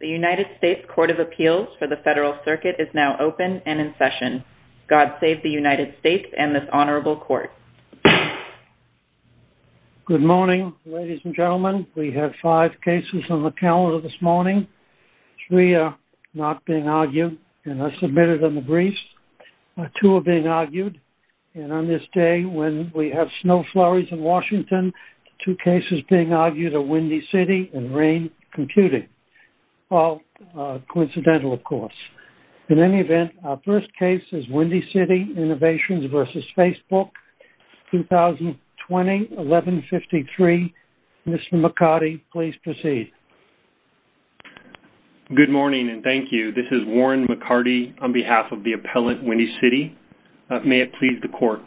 The United States Court of Appeals for the Federal Circuit is now open and in session. God save the United States and this honorable court. Good morning, ladies and gentlemen. We have five cases on the calendar this morning. Three are not being argued and are submitted in the briefs. Two are being argued and on this day when we have snow flurries in Washington, two cases being argued are Windy City and rain computing, all coincidental, of course. In any event, our first case is Windy City Innovations v. Facebook, 2020, 1153. Mr. McCarty, please proceed. Good morning and thank you. This is Warren McCarty on behalf of the appellant, Windy City. May it please the court.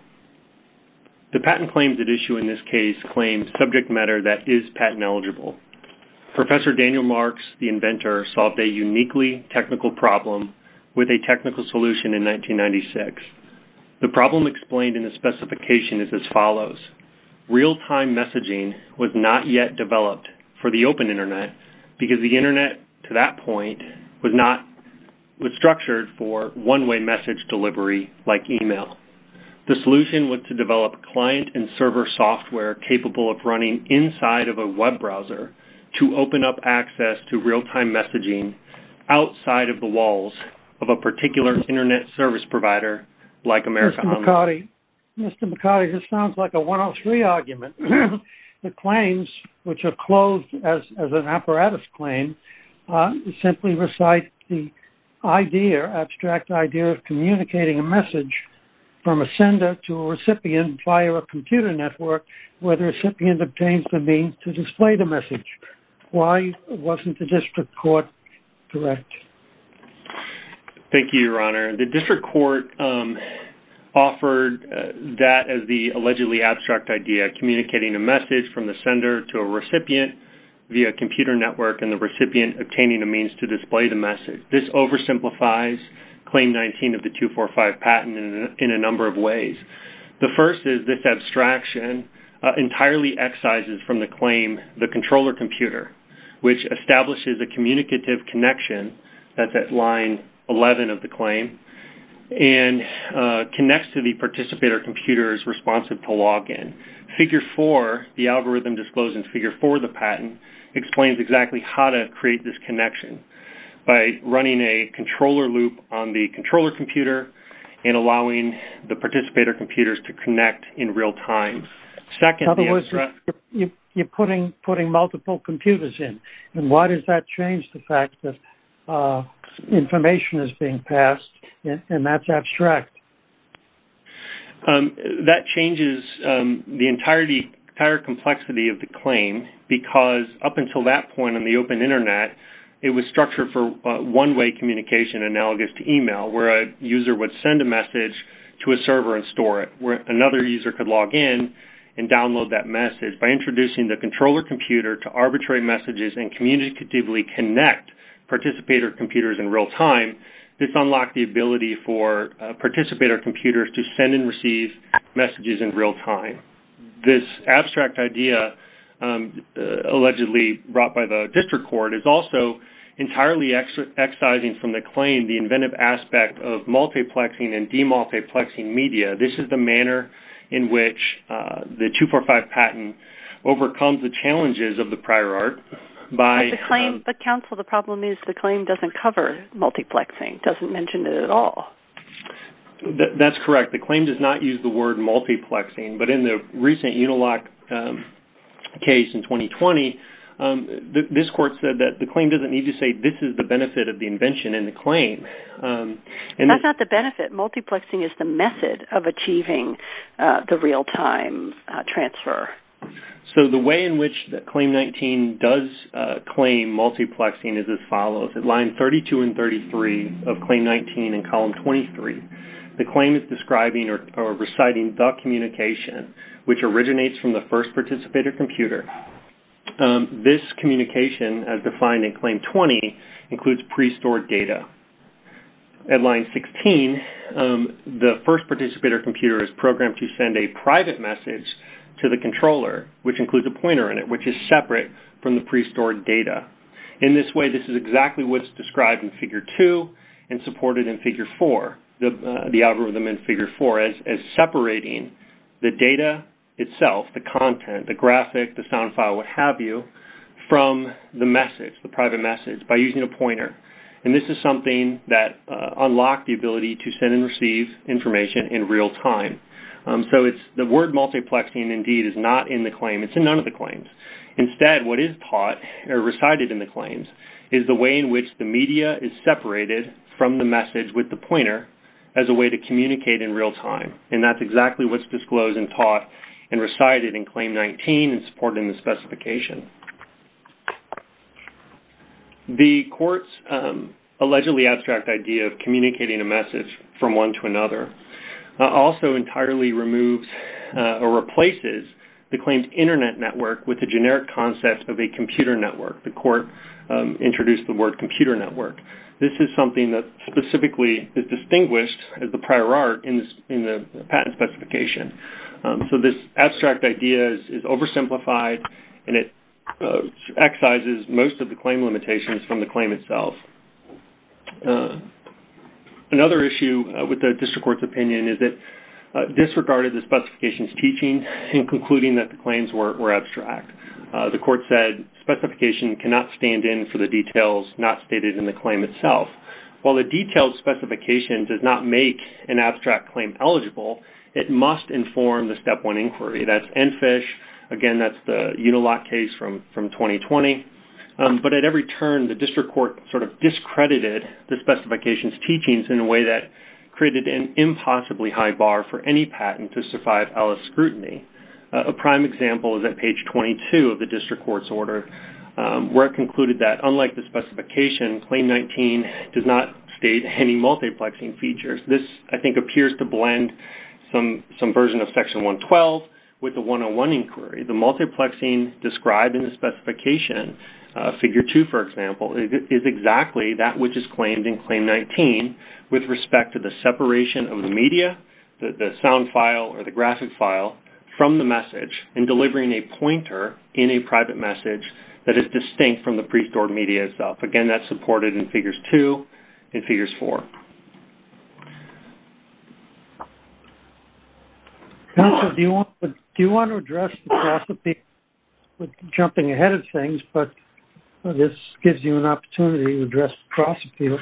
The patent claims at issue in this case claim subject matter that is patent eligible. Professor Daniel Marks, the inventor, solved a uniquely technical problem with a technical solution in 1996. The problem explained in the specification is as follows. Real-time messaging was not yet developed for the open Internet because the Internet to that point was structured for one-way message delivery like email. The solution was to develop client and server software capable of running inside of a web browser to open up access to real-time messaging outside of the walls of a particular Internet service provider like America Online. Mr. McCarty, this sounds like a 103 argument. The claims, which are closed as an apparatus claim, simply recite the idea, abstract idea of communicating a message from a sender to a recipient via a computer network where the recipient obtains the means to display the message. Why wasn't the district court correct? Thank you, Your Honor. The district court offered that as the allegedly abstract idea, communicating a message from the sender to a recipient via a computer network and the recipient obtaining a means to display the message. This oversimplifies Claim 19 of the 245 patent in a number of ways. The first is this abstraction entirely excises from the claim, the controller computer, which establishes a communicative connection that's at line 11 of the claim and connects to the participator computer's responsive to log in. Figure 4, the algorithm disclosing Figure 4 of the patent, explains exactly how to create this connection. By running a controller loop on the controller computer and allowing the participator computers to connect in real time. In other words, you're putting multiple computers in. Why does that change the fact that information is being passed and that's abstract? That changes the entire complexity of the claim because up until that point on the open internet, it was structured for one-way communication analogous to email where a user would send a message to a server and store it where another user could log in and download that message. By introducing the controller computer to arbitrary messages and communicatively connect participator computers in real time, this unlocked the ability for participator computers to send and receive messages in real time. This abstract idea, allegedly brought by the district court, is also entirely excising from the claim the inventive aspect of multiplexing and demultiplexing media. This is the manner in which the 245 patent overcomes the challenges of the prior art by... But counsel, the problem is the claim doesn't cover multiplexing, doesn't mention it at all. That's correct. The claim does not use the word multiplexing, but in the recent Unilock case in 2020, this court said that the claim doesn't need to say this is the benefit of the invention in the claim. That's not the benefit. Multiplexing is the method of achieving the real-time transfer. The way in which Claim 19 does claim multiplexing is as follows. At line 32 and 33 of Claim 19 in column 23, the claim is describing or reciting the communication which originates from the first participator computer. This communication, as defined in Claim 20, includes pre-stored data. At line 16, the first participator computer is programmed to send a private message to the controller, which includes a pointer in it, which is separate from the pre-stored data. In this way, this is exactly what's described in Figure 2 and supported in Figure 4, the algorithm in Figure 4, as separating the data itself, the content, the graphic, the sound file, what have you, from the message, the private message, by using a pointer. And this is something that unlocked the ability to send and receive information in real time. So the word multiplexing, indeed, is not in the claim. It's in none of the claims. Instead, what is taught or recited in the claims is the way in which the media is separated from the message with the pointer as a way to communicate in real time. And that's exactly what's disclosed and taught and recited in Claim 19 and supported in the specification. The court's allegedly abstract idea of communicating a message from one to another also entirely removes or replaces the claims' Internet network with the generic concept of a computer network. The court introduced the word computer network. This is something that specifically is distinguished as the prior art in the patent specification. So this abstract idea is oversimplified, and it excises most of the claim limitations from the claim itself. Another issue with the district court's opinion is it disregarded the specification's teaching in concluding that the claims were abstract. The court said, Specification cannot stand in for the details not stated in the claim itself. While the detailed specification does not make an abstract claim eligible, it must inform the Step 1 inquiry. That's EnFISH. Again, that's the Uniloc case from 2020. But at every turn, the district court sort of discredited the specification's teachings in a way that created an impossibly high bar for any patent to survive LS scrutiny. A prime example is at page 22 of the district court's order, where it concluded that, unlike the specification, Claim 19 does not state any multiplexing features. This, I think, appears to blend some version of Section 112 with the 101 inquiry. The multiplexing described in the specification, Figure 2, for example, is exactly that which is claimed in Claim 19 with respect to the separation of the media, the sound file or the graphic file, from the message, and delivering a pointer in a private message that is distinct from the pre-stored media itself. Again, that's supported in Figures 2 and Figures 4. Council, do you want to address the cross-appeal with jumping ahead of things? But this gives you an opportunity to address the cross-appeal.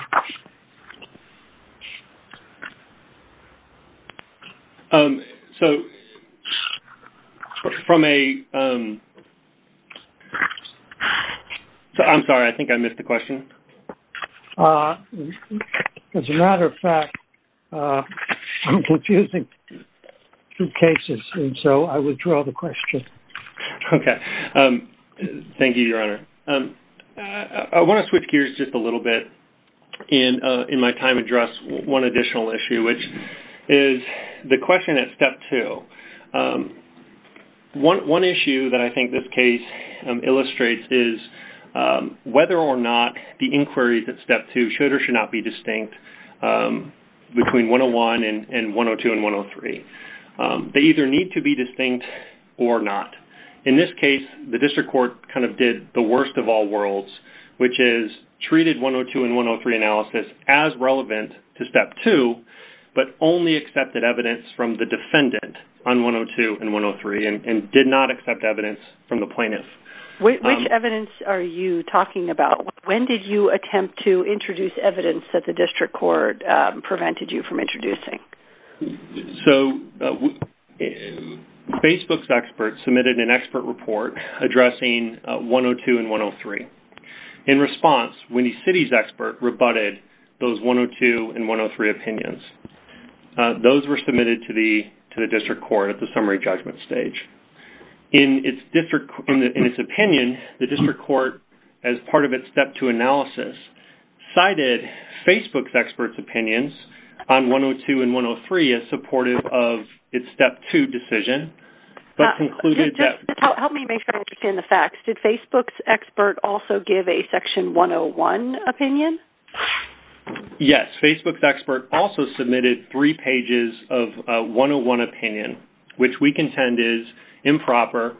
Um, so, from a, um, so, I'm sorry, I think I missed the question. Uh, as a matter of fact, uh, I'm confusing two cases, and so I withdraw the question. Okay. Um, thank you, Your Honor. Um, uh, I want to switch gears just a little bit in, uh, in my time to address one additional issue, which is the question at Step 2. Um, one, one issue that I think this case, um, illustrates is, um, whether or not the inquiry at Step 2 should or should not be distinct, um, between 101 and, and 102 and 103. Um, they either need to be distinct or not. In this case, the district court kind of did the worst of all worlds, which is treated 102 and 103 analysis as relevant to Step 2, but only accepted evidence from the defendant on 102 and 103, and, and did not accept evidence from the plaintiff. Which, which evidence are you talking about? When did you attempt to introduce evidence that the district court, um, prevented you from introducing? So, Facebook's experts submitted an expert report addressing, uh, 102 and 103. In response, Winnie City's expert rebutted those 102 and 103 opinions. Uh, those were submitted to the, to the district court at the summary judgment stage. In its district, in the, in its opinion, the district court, as part of its Step 2 analysis, cited Facebook's experts' opinions on 102 and 103 as supportive of its Step 2 decision, but concluded that... Uh, just, just help me make sure I understand the facts. Did Facebook's expert also give a Section 101 opinion? Yes. Facebook's expert also submitted three pages of a 101 opinion, which we contend is improper,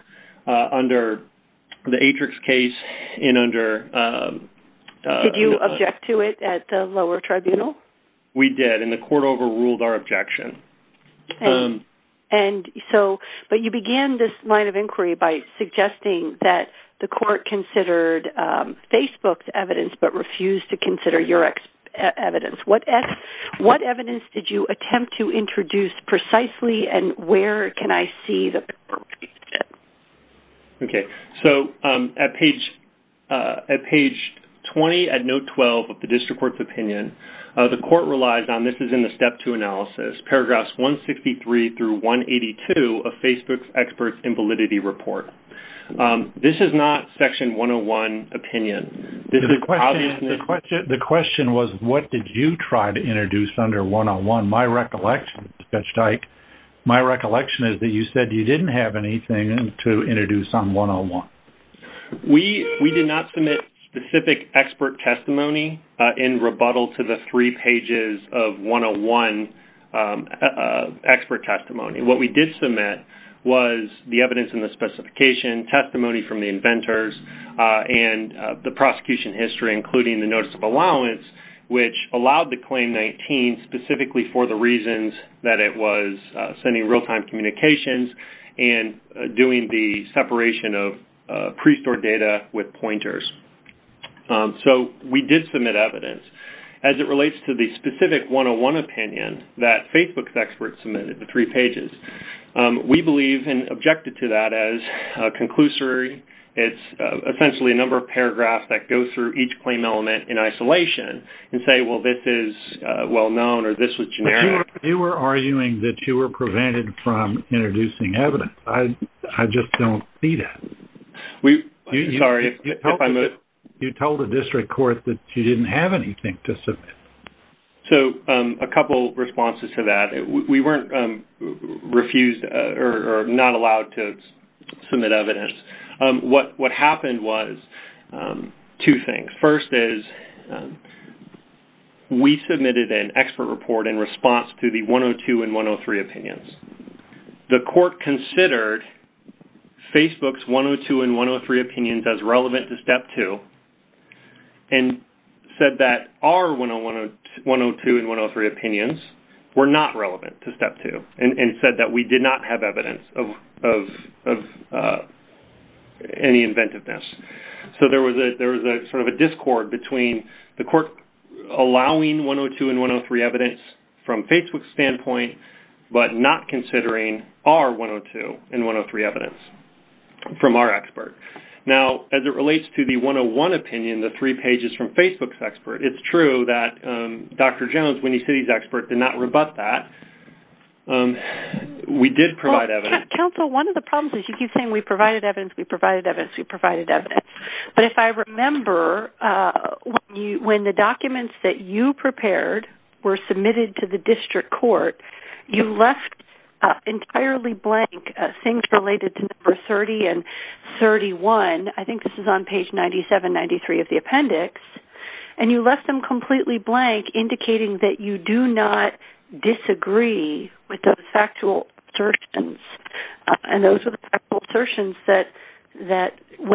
uh, under the Atrix case and under, um, uh... Did you object to it at the lower tribunal? We did, and the court overruled our objection. Um... And, and so, but you began this line of inquiry by suggesting that the court considered, um, Facebook's evidence, but refused to consider your ex- uh, evidence. What e- what evidence did you attempt to introduce precisely, and where can I see the... Okay. So, um, at page, uh, at page 20 at note 12 of the district court's opinion, uh, the court relies on, this is in the Step 2 analysis, paragraphs 163 through 182 of Facebook's experts' invalidity report. Um, this is not Section 101 opinion. This is obviously... The question, the question, the question was, what did you try to introduce under 101? My recollection, Judge Dyke, my recollection is that you said you didn't have anything to introduce on 101. We, we did not submit specific expert testimony, uh, in rebuttal to the three pages of 101, um, uh, expert testimony. What we did submit was the evidence in the specification, testimony from the inventors, uh, and, uh, the prosecution history, including the notice of allowance, which allowed the Claim 19 specifically for the reasons that it was, uh, sending real-time communications and, uh, doing the separation of, uh, pre-stored data with pointers. Um, so, we did submit evidence. As it relates to the specific 101 opinion that Facebook's experts submitted, the three pages, um, we believe and objected to that as a conclusory. It's, uh, essentially a number of paragraphs that go through each claim element in isolation and say, well, this is, uh, well-known or this was generic. You were arguing that you were prevented from introducing evidence. I, I just don't see that. We... Sorry, if I moved... You told the district court that you didn't have anything to submit. So, um, a couple responses to that. We weren't, um, refused, uh, or, or not allowed to submit evidence. Um, what, what happened was, um, two things. First is, um, we submitted an expert report in response to the 102 and 103 opinions. The court considered Facebook's 102 and 103 opinions as relevant to Step 2 and said that our 101, 102 and 103 opinions were not relevant to Step 2 and, and said that we did not have evidence of, of, of, uh, any inventiveness. So, there was a, there was a sort of a discord between the court allowing 102 and 103 evidence from Facebook's standpoint, but not considering our 102 and 103 evidence from our expert. Now, as it relates to the 101 opinion, the three pages from Facebook's expert, it's true that, um, Dr. Jones, Winnie City's expert, did not rebut that. Um, we did provide evidence... Counsel, one of the problems is you keep saying we provided evidence, we provided evidence, we provided evidence. But if I remember, uh, when you, when the documents that you prepared were submitted to the district court, you left, uh, entirely blank, uh, things related to number 30 and 31. I think this is on page 97, 93 of the appendix, and you left them completely blank indicating that you do not disagree with those factual assertions, uh, and those were the factual assertions that were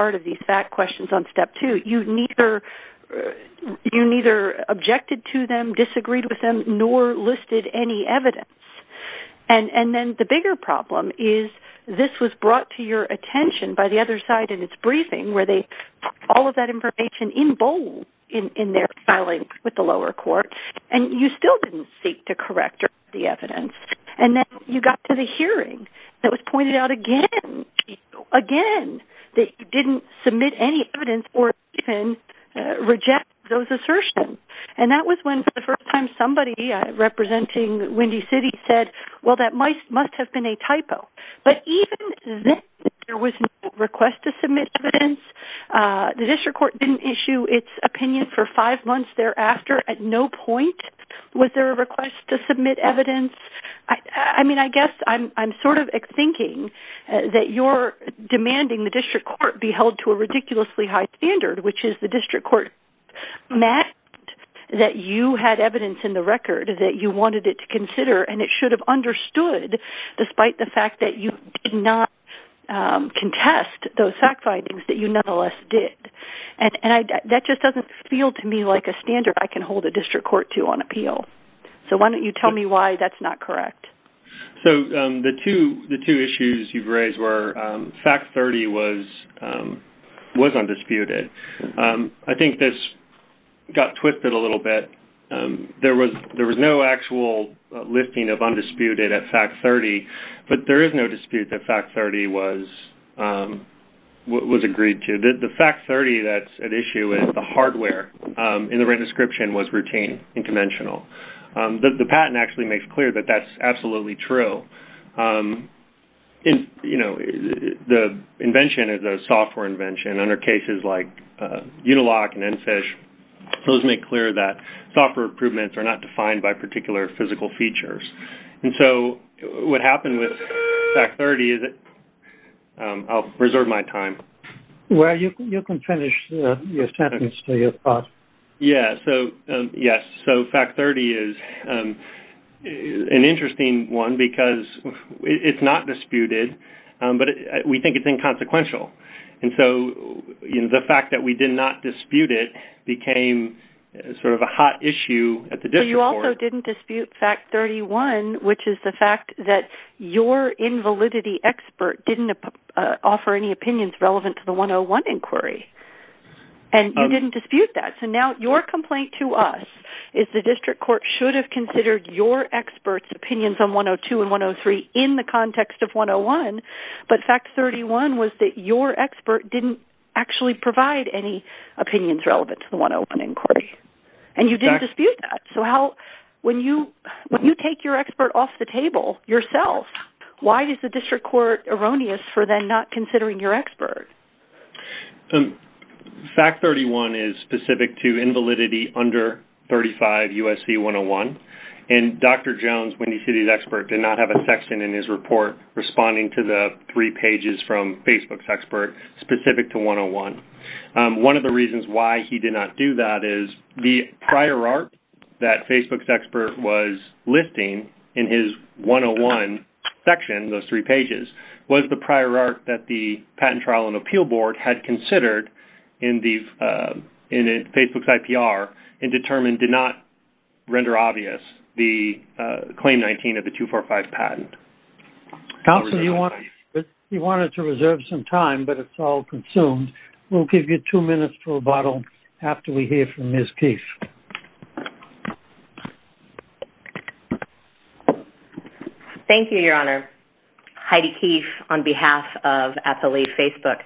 part of these fact questions on step two. You neither, uh, you neither objected to them, disagreed with them, nor listed any evidence. And, and then the bigger problem is this was brought to your attention by the other side in its briefing where they put all of that information in bold in, in their filing with the lower court, and you still didn't seek to correct the evidence. And then you got to the hearing that was pointed out again, again, that you didn't submit any evidence or even, uh, reject those assertions. And that was when for the first time somebody, uh, representing Windy City said, well, that might, must have been a typo. But even then, there was no request to submit evidence. Uh, the district court didn't issue its opinion for five months thereafter at no point was there a request to submit evidence. I, I mean, I guess I'm, I'm sort of thinking that you're demanding the district court be held to a ridiculously high standard, which is the district court met that you had evidence in the record that you wanted it to consider. And it should have understood despite the fact that you did not, um, contest those fact findings that you nonetheless did. And, and I, that just doesn't feel to me like a standard I can hold a district court to on appeal. So why don't you tell me why that's not correct? So, um, the two, the two issues you've raised were, um, fact 30 was, um, was undisputed. Um, I think this got twisted a little bit. Um, there was, there was no actual listing of undisputed at fact 30, but there is no dispute that fact 30 was, um, was agreed to. The fact 30 that's at issue is the hardware, um, in the written description was routine and conventional. The, the patent actually makes clear that that's absolutely true. Um, and, you know, the invention is a software invention under cases like, uh, Unilock and NFISH. Those make clear that software improvements are not defined by particular physical features. And so what happened with fact 30 is that, um, I'll reserve my time. Well, you can, you can finish your sentence to your thought. Yeah. So, um, yes. So fact 30 is, um, an interesting one because it's not disputed, um, but we think it's inconsequential. And so, you know, the fact that we did not dispute it became sort of a hot issue at the district court. You also didn't dispute fact 31, which is the fact that your invalidity expert didn't offer any opinions relevant to the 101 inquiry. And you didn't dispute that. So now your complaint to us is the district court should have considered your experts opinions on 102 and 103 in the context of 101. But fact 31 was that your expert didn't actually provide any opinions relevant to the 101 inquiry. And you didn't dispute that. So how, when you, when you take your expert off the table yourself, why is the district court erroneous for then not considering your expert? Um, fact 31 is specific to invalidity under 35 USC 101. And Dr. Jones, Windy City's expert, did not have a section in his report responding to the three pages from Facebook's expert specific to 101. One of the reasons why he did not do that is the prior art that Facebook's expert was listing in his 101 section, those three pages, was the prior art that the patent trial and appeal board had considered in the, in Facebook's IPR and determined did not render obvious the claim 19 of the 245 patent. Counselor, you wanted to reserve some time, but it's all consumed. We'll give you two minutes to rebuttal after we hear from Ms. Keefe. Thank you, Your Honor. Heidi Keefe on behalf of FA Facebook.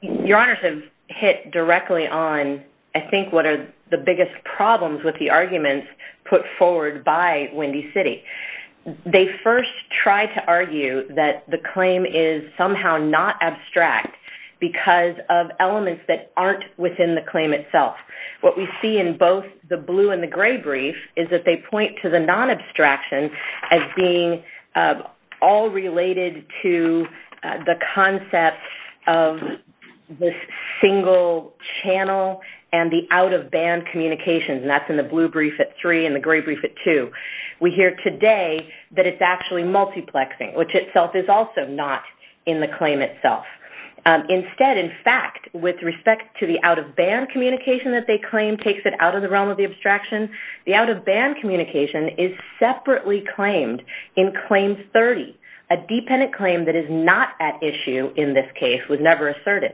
Your honors have hit directly on, I think, what are the biggest problems with the arguments put forward by Windy City. They first tried to argue that the claim is somehow not abstract because of elements that aren't within the claim itself. What we see in both the blue and the gray brief is that they point to the non-abstraction as being all related to the concept of this single channel and the out-of-band communication, and that's in the blue brief at three and the gray brief at two. We hear today that it's actually multiplexing, which itself is also not in the claim itself. Instead, in fact, with respect to the out-of-band communication that they claim takes it out of the realm of the abstraction, the out-of-band communication is separately claimed in Claim 30, a dependent claim that is not at issue in this case, was never asserted.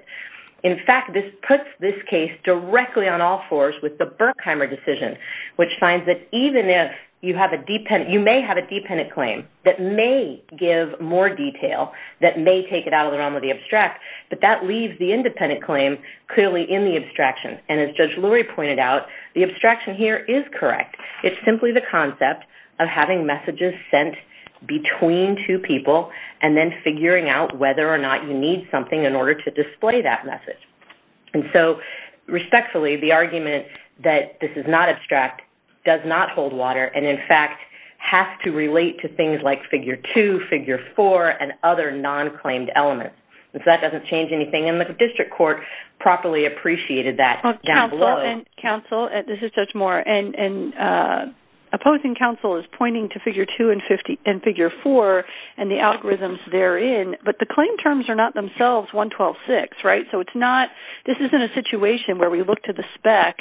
In fact, this puts this case directly on all fours with the Berkheimer decision, which finds that even if you may have a dependent claim that may give more detail, that may take it out of the realm of the abstract, but that leaves the independent claim clearly in the abstraction. As Judge Lurie pointed out, the abstraction here is correct. It's simply the concept of having messages sent between two people and then figuring out whether or not you need something in order to display that message. Respectfully, the argument that this is not abstract does not hold water and, in fact, has to relate to things like Figure 2, Figure 4, and other non-claimed elements. That doesn't change anything. The district court properly appreciated that down below. Counsel, this is Judge Moore. Opposing counsel is pointing to Figure 2 and Figure 4 and the algorithms therein, but the claim terms are not themselves 112.6, right? This isn't a situation where we look to the spec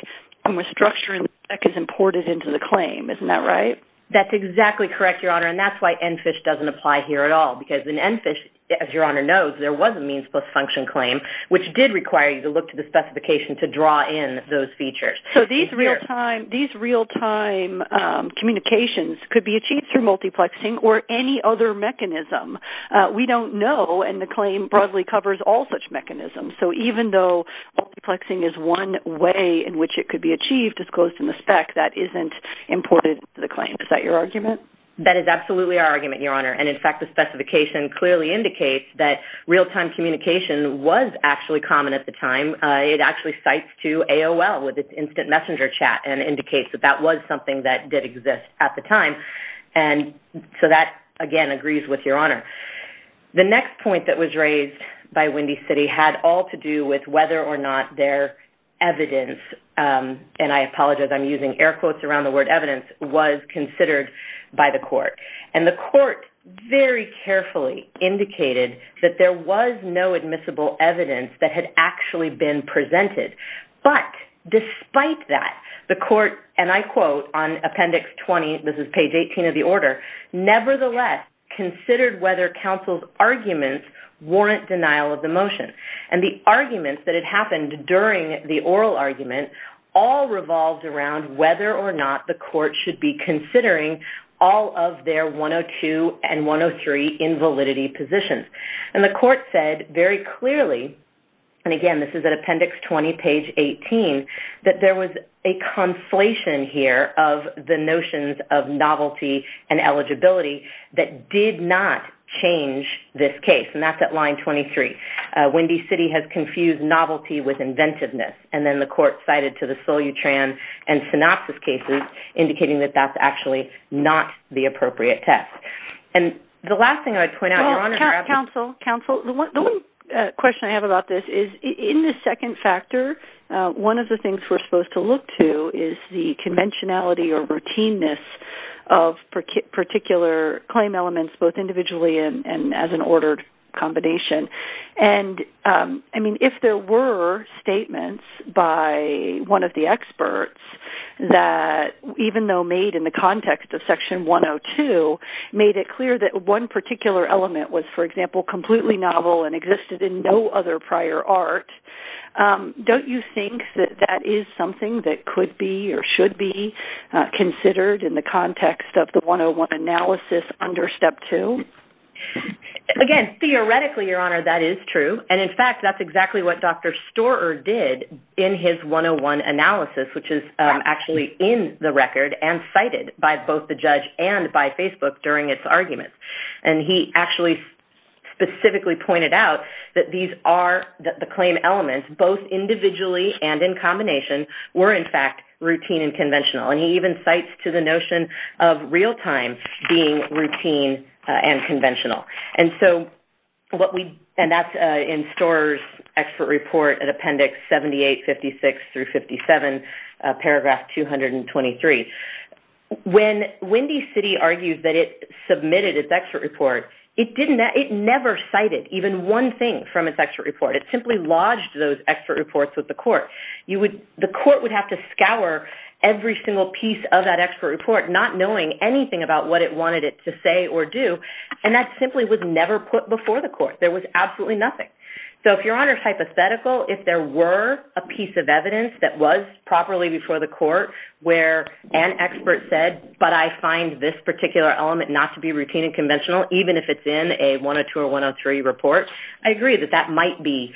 and the structure in the spec is imported into the claim. Isn't that right? That's exactly correct, Your Honor, and that's why ENFISH doesn't apply here at all because in ENFISH, as Your Honor knows, there was a means-plus-function claim which did require you to look to the specification to draw in those features. These real-time communications could be achieved through multiplexing or any other mechanism. We don't know, and the claim broadly covers all such mechanisms, so even though multiplexing is one way in which it could be achieved as close to the spec, that isn't imported into the claim. Is that your argument? That is absolutely our argument, Your Honor, and in fact, the specification clearly indicates that real-time communication was actually common at the time. It actually cites to AOL with its instant messenger chat and indicates that that was something that did exist at the time, and so that, again, agrees with Your Honor. The next point that was raised by Windy City had all to do with whether or not their evidence, and I apologize, I'm using air quotes around the word evidence, was considered by the court, and the court very carefully indicated that there was no admissible evidence that had actually been presented, but despite that, the court, and I quote on Appendix 20, this is page 18 of the order, nevertheless considered whether counsel's arguments warrant denial of the motion, and the arguments that had happened during the oral argument all revolved around whether or not the court should be considering all of their 102 and 103 invalidity positions, and the court said very clearly, and again, this is at Appendix 20, page 18, that there was a conflation here of the notions of novelty and eligibility that did not change this case, and that's at line 23. Windy City has confused novelty with inventiveness, and then the court cited to the Solyutran and synopsis cases, indicating that that's actually not the appropriate test, and the last thing I'd point out, Your Honor, counsel, the one question I have about this is, in the second factor, one of the things we're supposed to look to is the ordered combination, and I mean, if there were statements by one of the experts that, even though made in the context of Section 102, made it clear that one particular element was, for example, completely novel and existed in no other prior art, don't you think that that is something that could be or should be considered in the context of the 101 analysis under Step 2? Again, theoretically, Your Honor, that is true, and in fact, that's exactly what Dr. Storer did in his 101 analysis, which is actually in the record and cited by both the judge and by Facebook during its arguments, and he actually specifically pointed out that these are the claim elements, both individually and in combination, were, in fact, routine and conventional, and he even cites to the notion of real-time being routine and conventional, and that's in Storer's expert report in Appendix 78, 56 through 57, Paragraph 223. When Windy City argued that it submitted its expert report, it never cited even one thing from its expert report. It simply lodged those scours every single piece of that expert report, not knowing anything about what it wanted it to say or do, and that simply was never put before the court. There was absolutely nothing. So if Your Honor is hypothetical, if there were a piece of evidence that was properly before the court where an expert said, but I find this particular element not to be routine and conventional, even if it's in a 102 or 103 report, I agree that that might be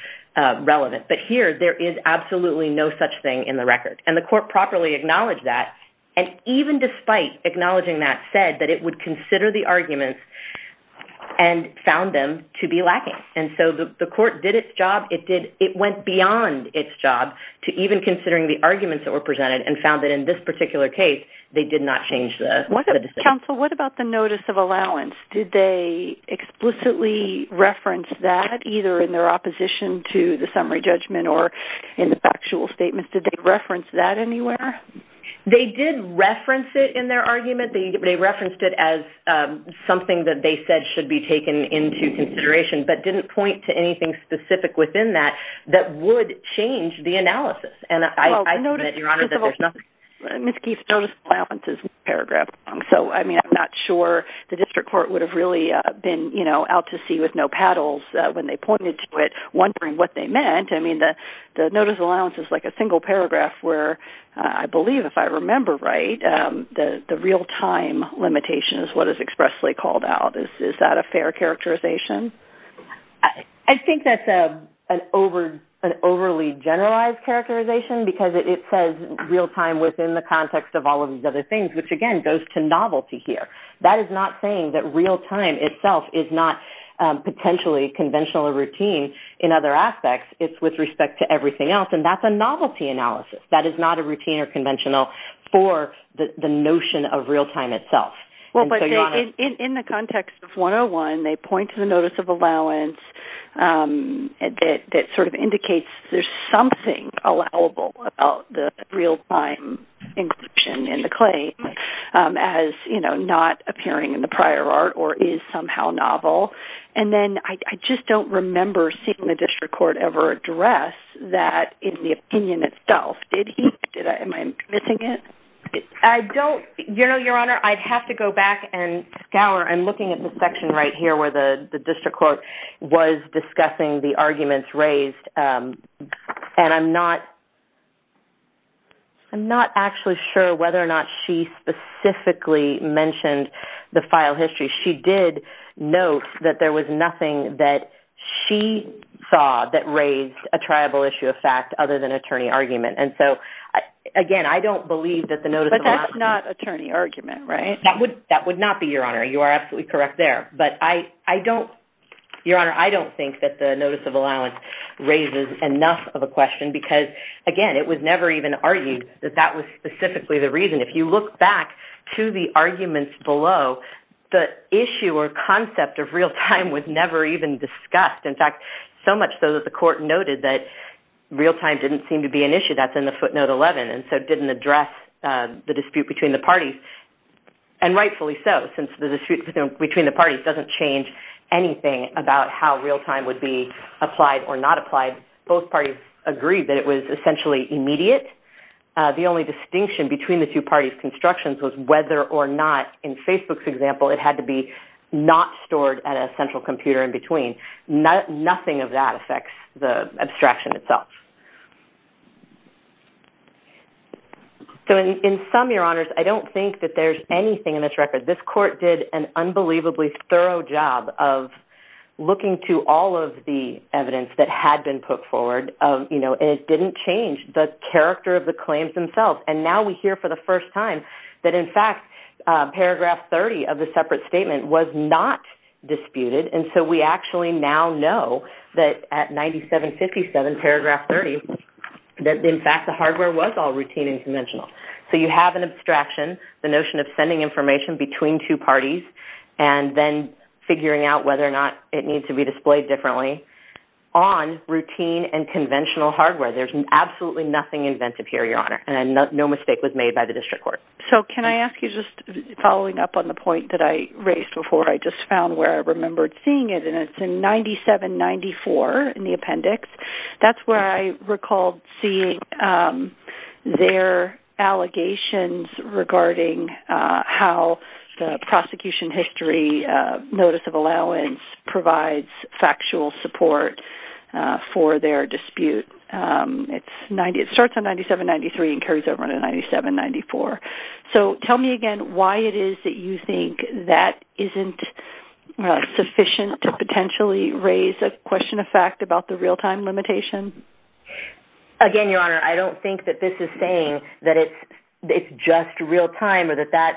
relevant, but here, there is absolutely no such thing in the record, and the court properly acknowledged that, and even despite acknowledging that, said that it would consider the arguments and found them to be lacking, and so the court did its job. It went beyond its job to even considering the arguments that were presented and found that in this particular case, they did not change the decision. Counsel, what about the notice of allowance? Did they explicitly reference that, either in their opposition to the summary judgment or in the factual statement? Did they reference that anywhere? They did reference it in their argument. They referenced it as something that they said should be taken into consideration, but didn't point to anything specific within that that would change the analysis, and I admit, Your Honor, that there's nothing. Well, notice, first of all, Ms. Keith, notice of allowance is a paragraph long, so I mean, I'm not sure the district court would have really been, you know, out to sea with no paddles when they pointed to it, wondering what they meant. I mean, the notice of allowance is like a single paragraph where, I believe, if I remember right, the real-time limitation is what is expressly called out. Is that a fair characterization? I think that's an overly generalized characterization because it says real-time within the context of all of these other things, which, again, goes to novelty here. That is not saying that real-time itself is not potentially conventional or routine in other aspects. It's with respect to everything else, and that's a novelty analysis. That is not a routine or conventional for the notion of real-time itself. Well, but in the context of 101, they point to the notice of allowance that sort of indicates there's something allowable about the real-time inclusion in the claim as, you know, not appearing in the prior art or is somehow novel, and then I just don't remember seeing the district court ever address that in the opinion itself. Did he? Am I missing it? I don't, you know, Your Honor, I'd have to go back and scour. I'm looking at the section right here where the district court was discussing the arguments raised, and I'm not actually sure whether or not she specifically mentioned the file history. She did note that there was nothing that she saw that raised a triable issue of fact other than attorney argument, and so, again, I don't believe that the notice of allowance. But that's not attorney argument, right? That would not be, Your Honor. You are absolutely correct there, but I don't, Your Honor, I don't think that the notice of allowance raises enough of a question because, again, it was never even argued that that was specifically the reason. If you look back to the arguments below, the issue or concept of real-time was never even discussed. In fact, so much so that the court noted that real-time didn't seem to be an issue. That's in the footnote 11, and so it didn't address the dispute between the parties, and rightfully so since the dispute between the parties doesn't change anything about how real-time would be applied or not applied, both parties agreed that it was essentially immediate. The only distinction between the two parties' constructions was whether or not, in Facebook's example, it had to be not stored at a central computer in between. Nothing of that affects the abstraction itself. So in sum, Your Honors, I don't think that there's anything in this record. This court did an unbelievably thorough job of looking to all of the evidence that had been put forward. It didn't change the character of the claims themselves, and now we hear for the first time that, in fact, paragraph 30 of the separate statement was not disputed, and so we actually now know that at 97-57, paragraph 30, that, in fact, the hardware was all routine and conventional. So you have an abstraction, the notion of sending information between two parties, and then figuring out whether or not it needs to be displayed differently on routine and conventional hardware. There's absolutely nothing inventive here, Your Honor, and no mistake was made by the district court. So can I ask you, just following up on the point that I raised before, I just found where I remembered seeing it, and it's in 97-94 in the appendix. That's where I recalled seeing their allegations regarding how the prosecution history notice of allowance provides factual support for their dispute. It starts on 97-93 and carries over to 97-94. So tell me again why it is that you think that isn't sufficient to potentially raise a question of fact about the real-time limitation? Again, Your Honor, I don't think that this is saying that it's just real-time or that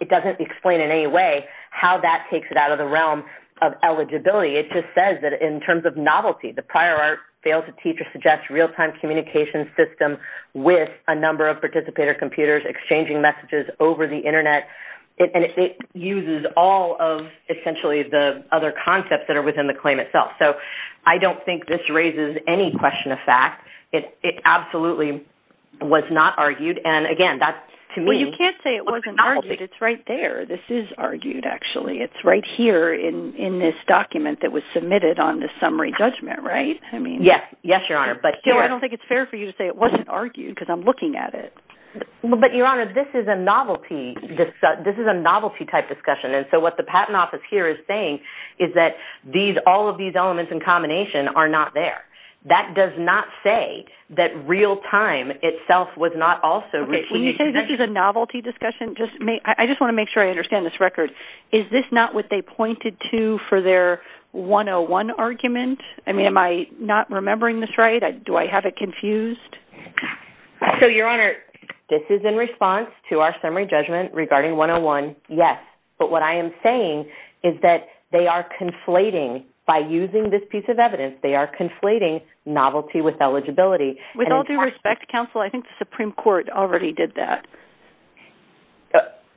it doesn't explain in any way how that takes it out of the realm of eligibility. It just says that in terms of novelty, the prior art failed to teach or suggest real-time communication system with a number of participator computers exchanging messages over the internet, and it uses all of essentially the other concepts that are within the claim itself. So I don't think this raises any question of fact. It absolutely was not argued, and again, that's to me... Well, you can't say it wasn't argued. It's right there. This is argued, actually. It's right here in this document that was submitted on the summary judgment, right? Yes. Yes, Your Honor. I don't think it's fair for you to say it wasn't argued because I'm looking at it. But Your Honor, this is a novelty-type discussion, and so what the Patent Office here is saying is that all of these elements in combination are not there. That does not say that real-time itself was not also... Okay, can you say this is a novelty discussion? I just want to make sure I understand this record. Is this not what they pointed to for their 101 argument? I mean, am I not remembering this right? Do I have it confused? So, Your Honor, this is in response to our summary judgment regarding 101, yes. But what I am saying is that they are conflating, by using this piece of evidence, they are conflating novelty with eligibility. With all due respect, Counsel, I think the Supreme Court already did that.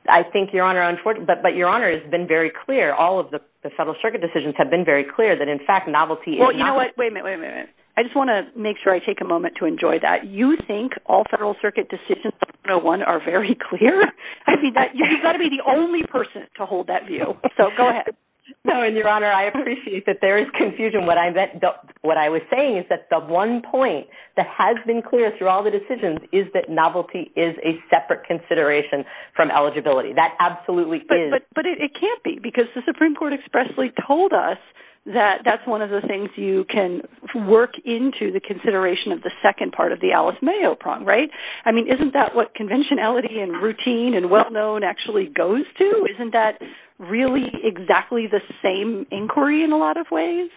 I think, Your Honor, but Your Honor, it's been very clear. All of the Federal Circuit decisions have been very clear that, in fact, novelty is novelty. Well, you know what? Wait a minute, wait a minute. I just want to make sure I take a moment to enjoy that. You think all Federal Circuit decisions have been very clear? You've got to be the only person to hold that view. So, go ahead. No, and Your Honor, I appreciate that there is confusion. What I was saying is that the one point that has been clear through all the decisions is that novelty is a separate consideration from eligibility. That absolutely is. But it can't be, because the Supreme Court expressly told us that that's one of the things you can work into the consideration of the second part of the Alice Mayo prong, right? I mean, isn't that what conventionality and routine and well-known actually goes to? Isn't that really exactly the same inquiry in a lot of ways?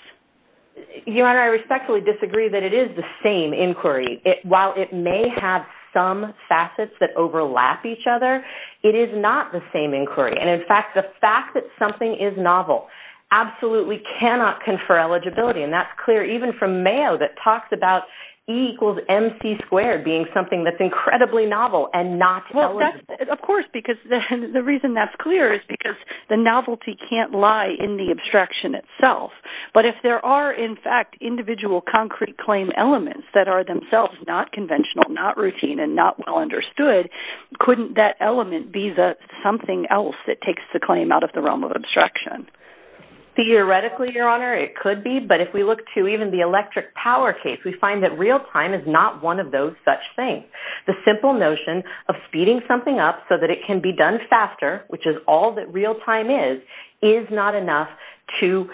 Your Honor, I respectfully disagree that it is the same inquiry. While it may have some facets that overlap each other, it is not the same inquiry. And, in fact, the fact that something is novel absolutely cannot confer eligibility. And that's clear even from Mayo that talks about E equals MC squared being something that's incredibly novel and not eligible. Of course, because the reason that's clear is because the novelty can't lie in the abstraction itself. But if there are, in fact, individual concrete claim elements that are themselves not conventional, not routine, and not well understood, couldn't that element be the something else that takes the claim out of the realm of abstraction? Theoretically, Your Honor, it could be. But if we look to even the electric power case, we find that real time is not one of those such things. The simple notion of speeding something up so that it can be done faster, which is all that real time is, is not enough to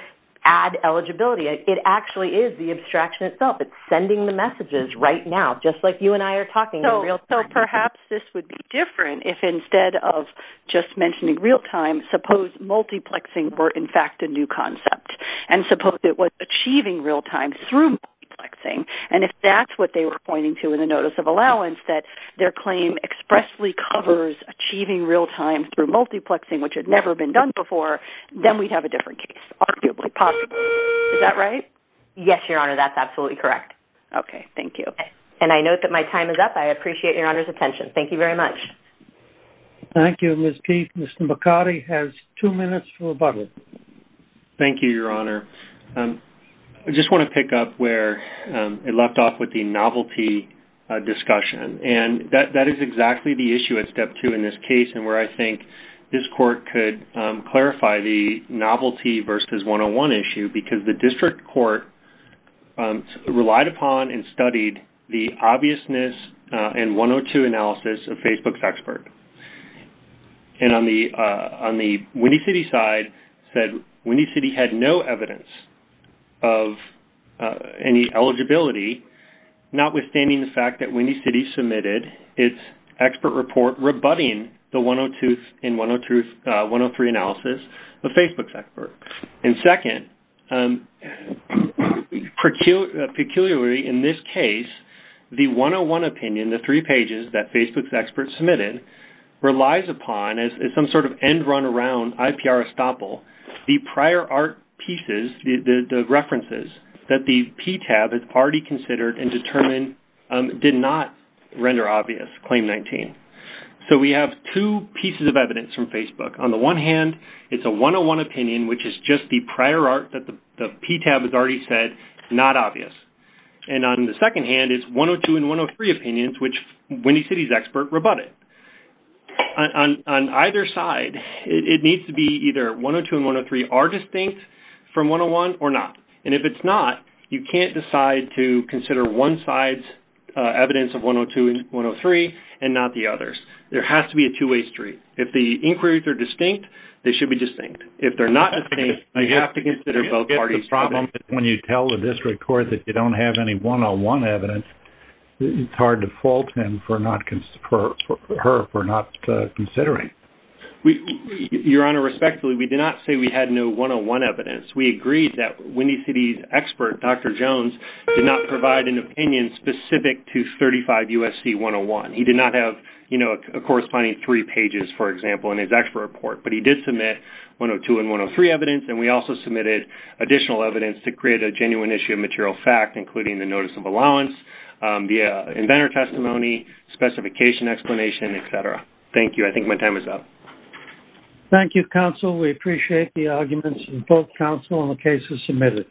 add eligibility. It actually is the abstraction itself. It's sending the messages right now, just like you and I are talking in real time. So perhaps this would be different if instead of just mentioning real time, suppose multiplexing were, in fact, a new concept. And suppose it was achieving real time through multiplexing. And if that's what they were pointing to in the Notice of Allowance, that their claim expressly covers achieving real time through multiplexing, which had never been done before, then we'd have a different case, arguably possible. Is that right? Yes, Your Honor, that's absolutely correct. Okay, thank you. And I note that my time is up. I appreciate Your Honor's attention. Thank you very much. Thank you, Ms. Keith. Mr. McCarty has two minutes to rebuttal. Thank you, Your Honor. I just want to pick up where it left off with the novelty discussion. And that is exactly the issue at step two in this case, and where I think this court could clarify the novelty versus 101 issue, because the district court relied upon and studied the obviousness and 102 analysis of Facebook's expert. And on the Windy City side, said Windy City had no evidence of any eligibility, notwithstanding the fact that Windy City submitted its expert report rebutting the 102 and 103 analysis of Facebook's expert. And second, and peculiarly in this case, the 101 opinion, the three pages that Facebook's experts submitted, relies upon as some sort of end run around IPR estoppel, the prior art pieces, the references that the PTAB has already considered and determined did not render obvious Claim 19. So, we have two pieces of evidence from Facebook. On the one hand, it's a 101 opinion, which is just the prior art that the PTAB has already said, not obvious. And on the second hand, it's 102 and 103 opinions, which Windy City's expert rebutted. On either side, it needs to be either 102 and 103 are distinct from 101 or not. And if it's not, you can't decide to consider one side's evidence of 102 and 103 and not the others. There has to be a two-way street. If the you have to consider both parties. When you tell the district court that you don't have any 101 evidence, it's hard to fault him for not considering. Your Honor, respectfully, we did not say we had no 101 evidence. We agreed that Windy City's expert, Dr. Jones, did not provide an opinion specific to 35 USC 101. He did not have a corresponding three pages, for example, in his expert report. But he did submit 102 and 103 evidence. And we also submitted additional evidence to create a genuine issue of material fact, including the notice of allowance, the inventor testimony, specification explanation, et cetera. Thank you. I think my time is up. Thank you, counsel. We appreciate the arguments from both counsel and the cases submitted.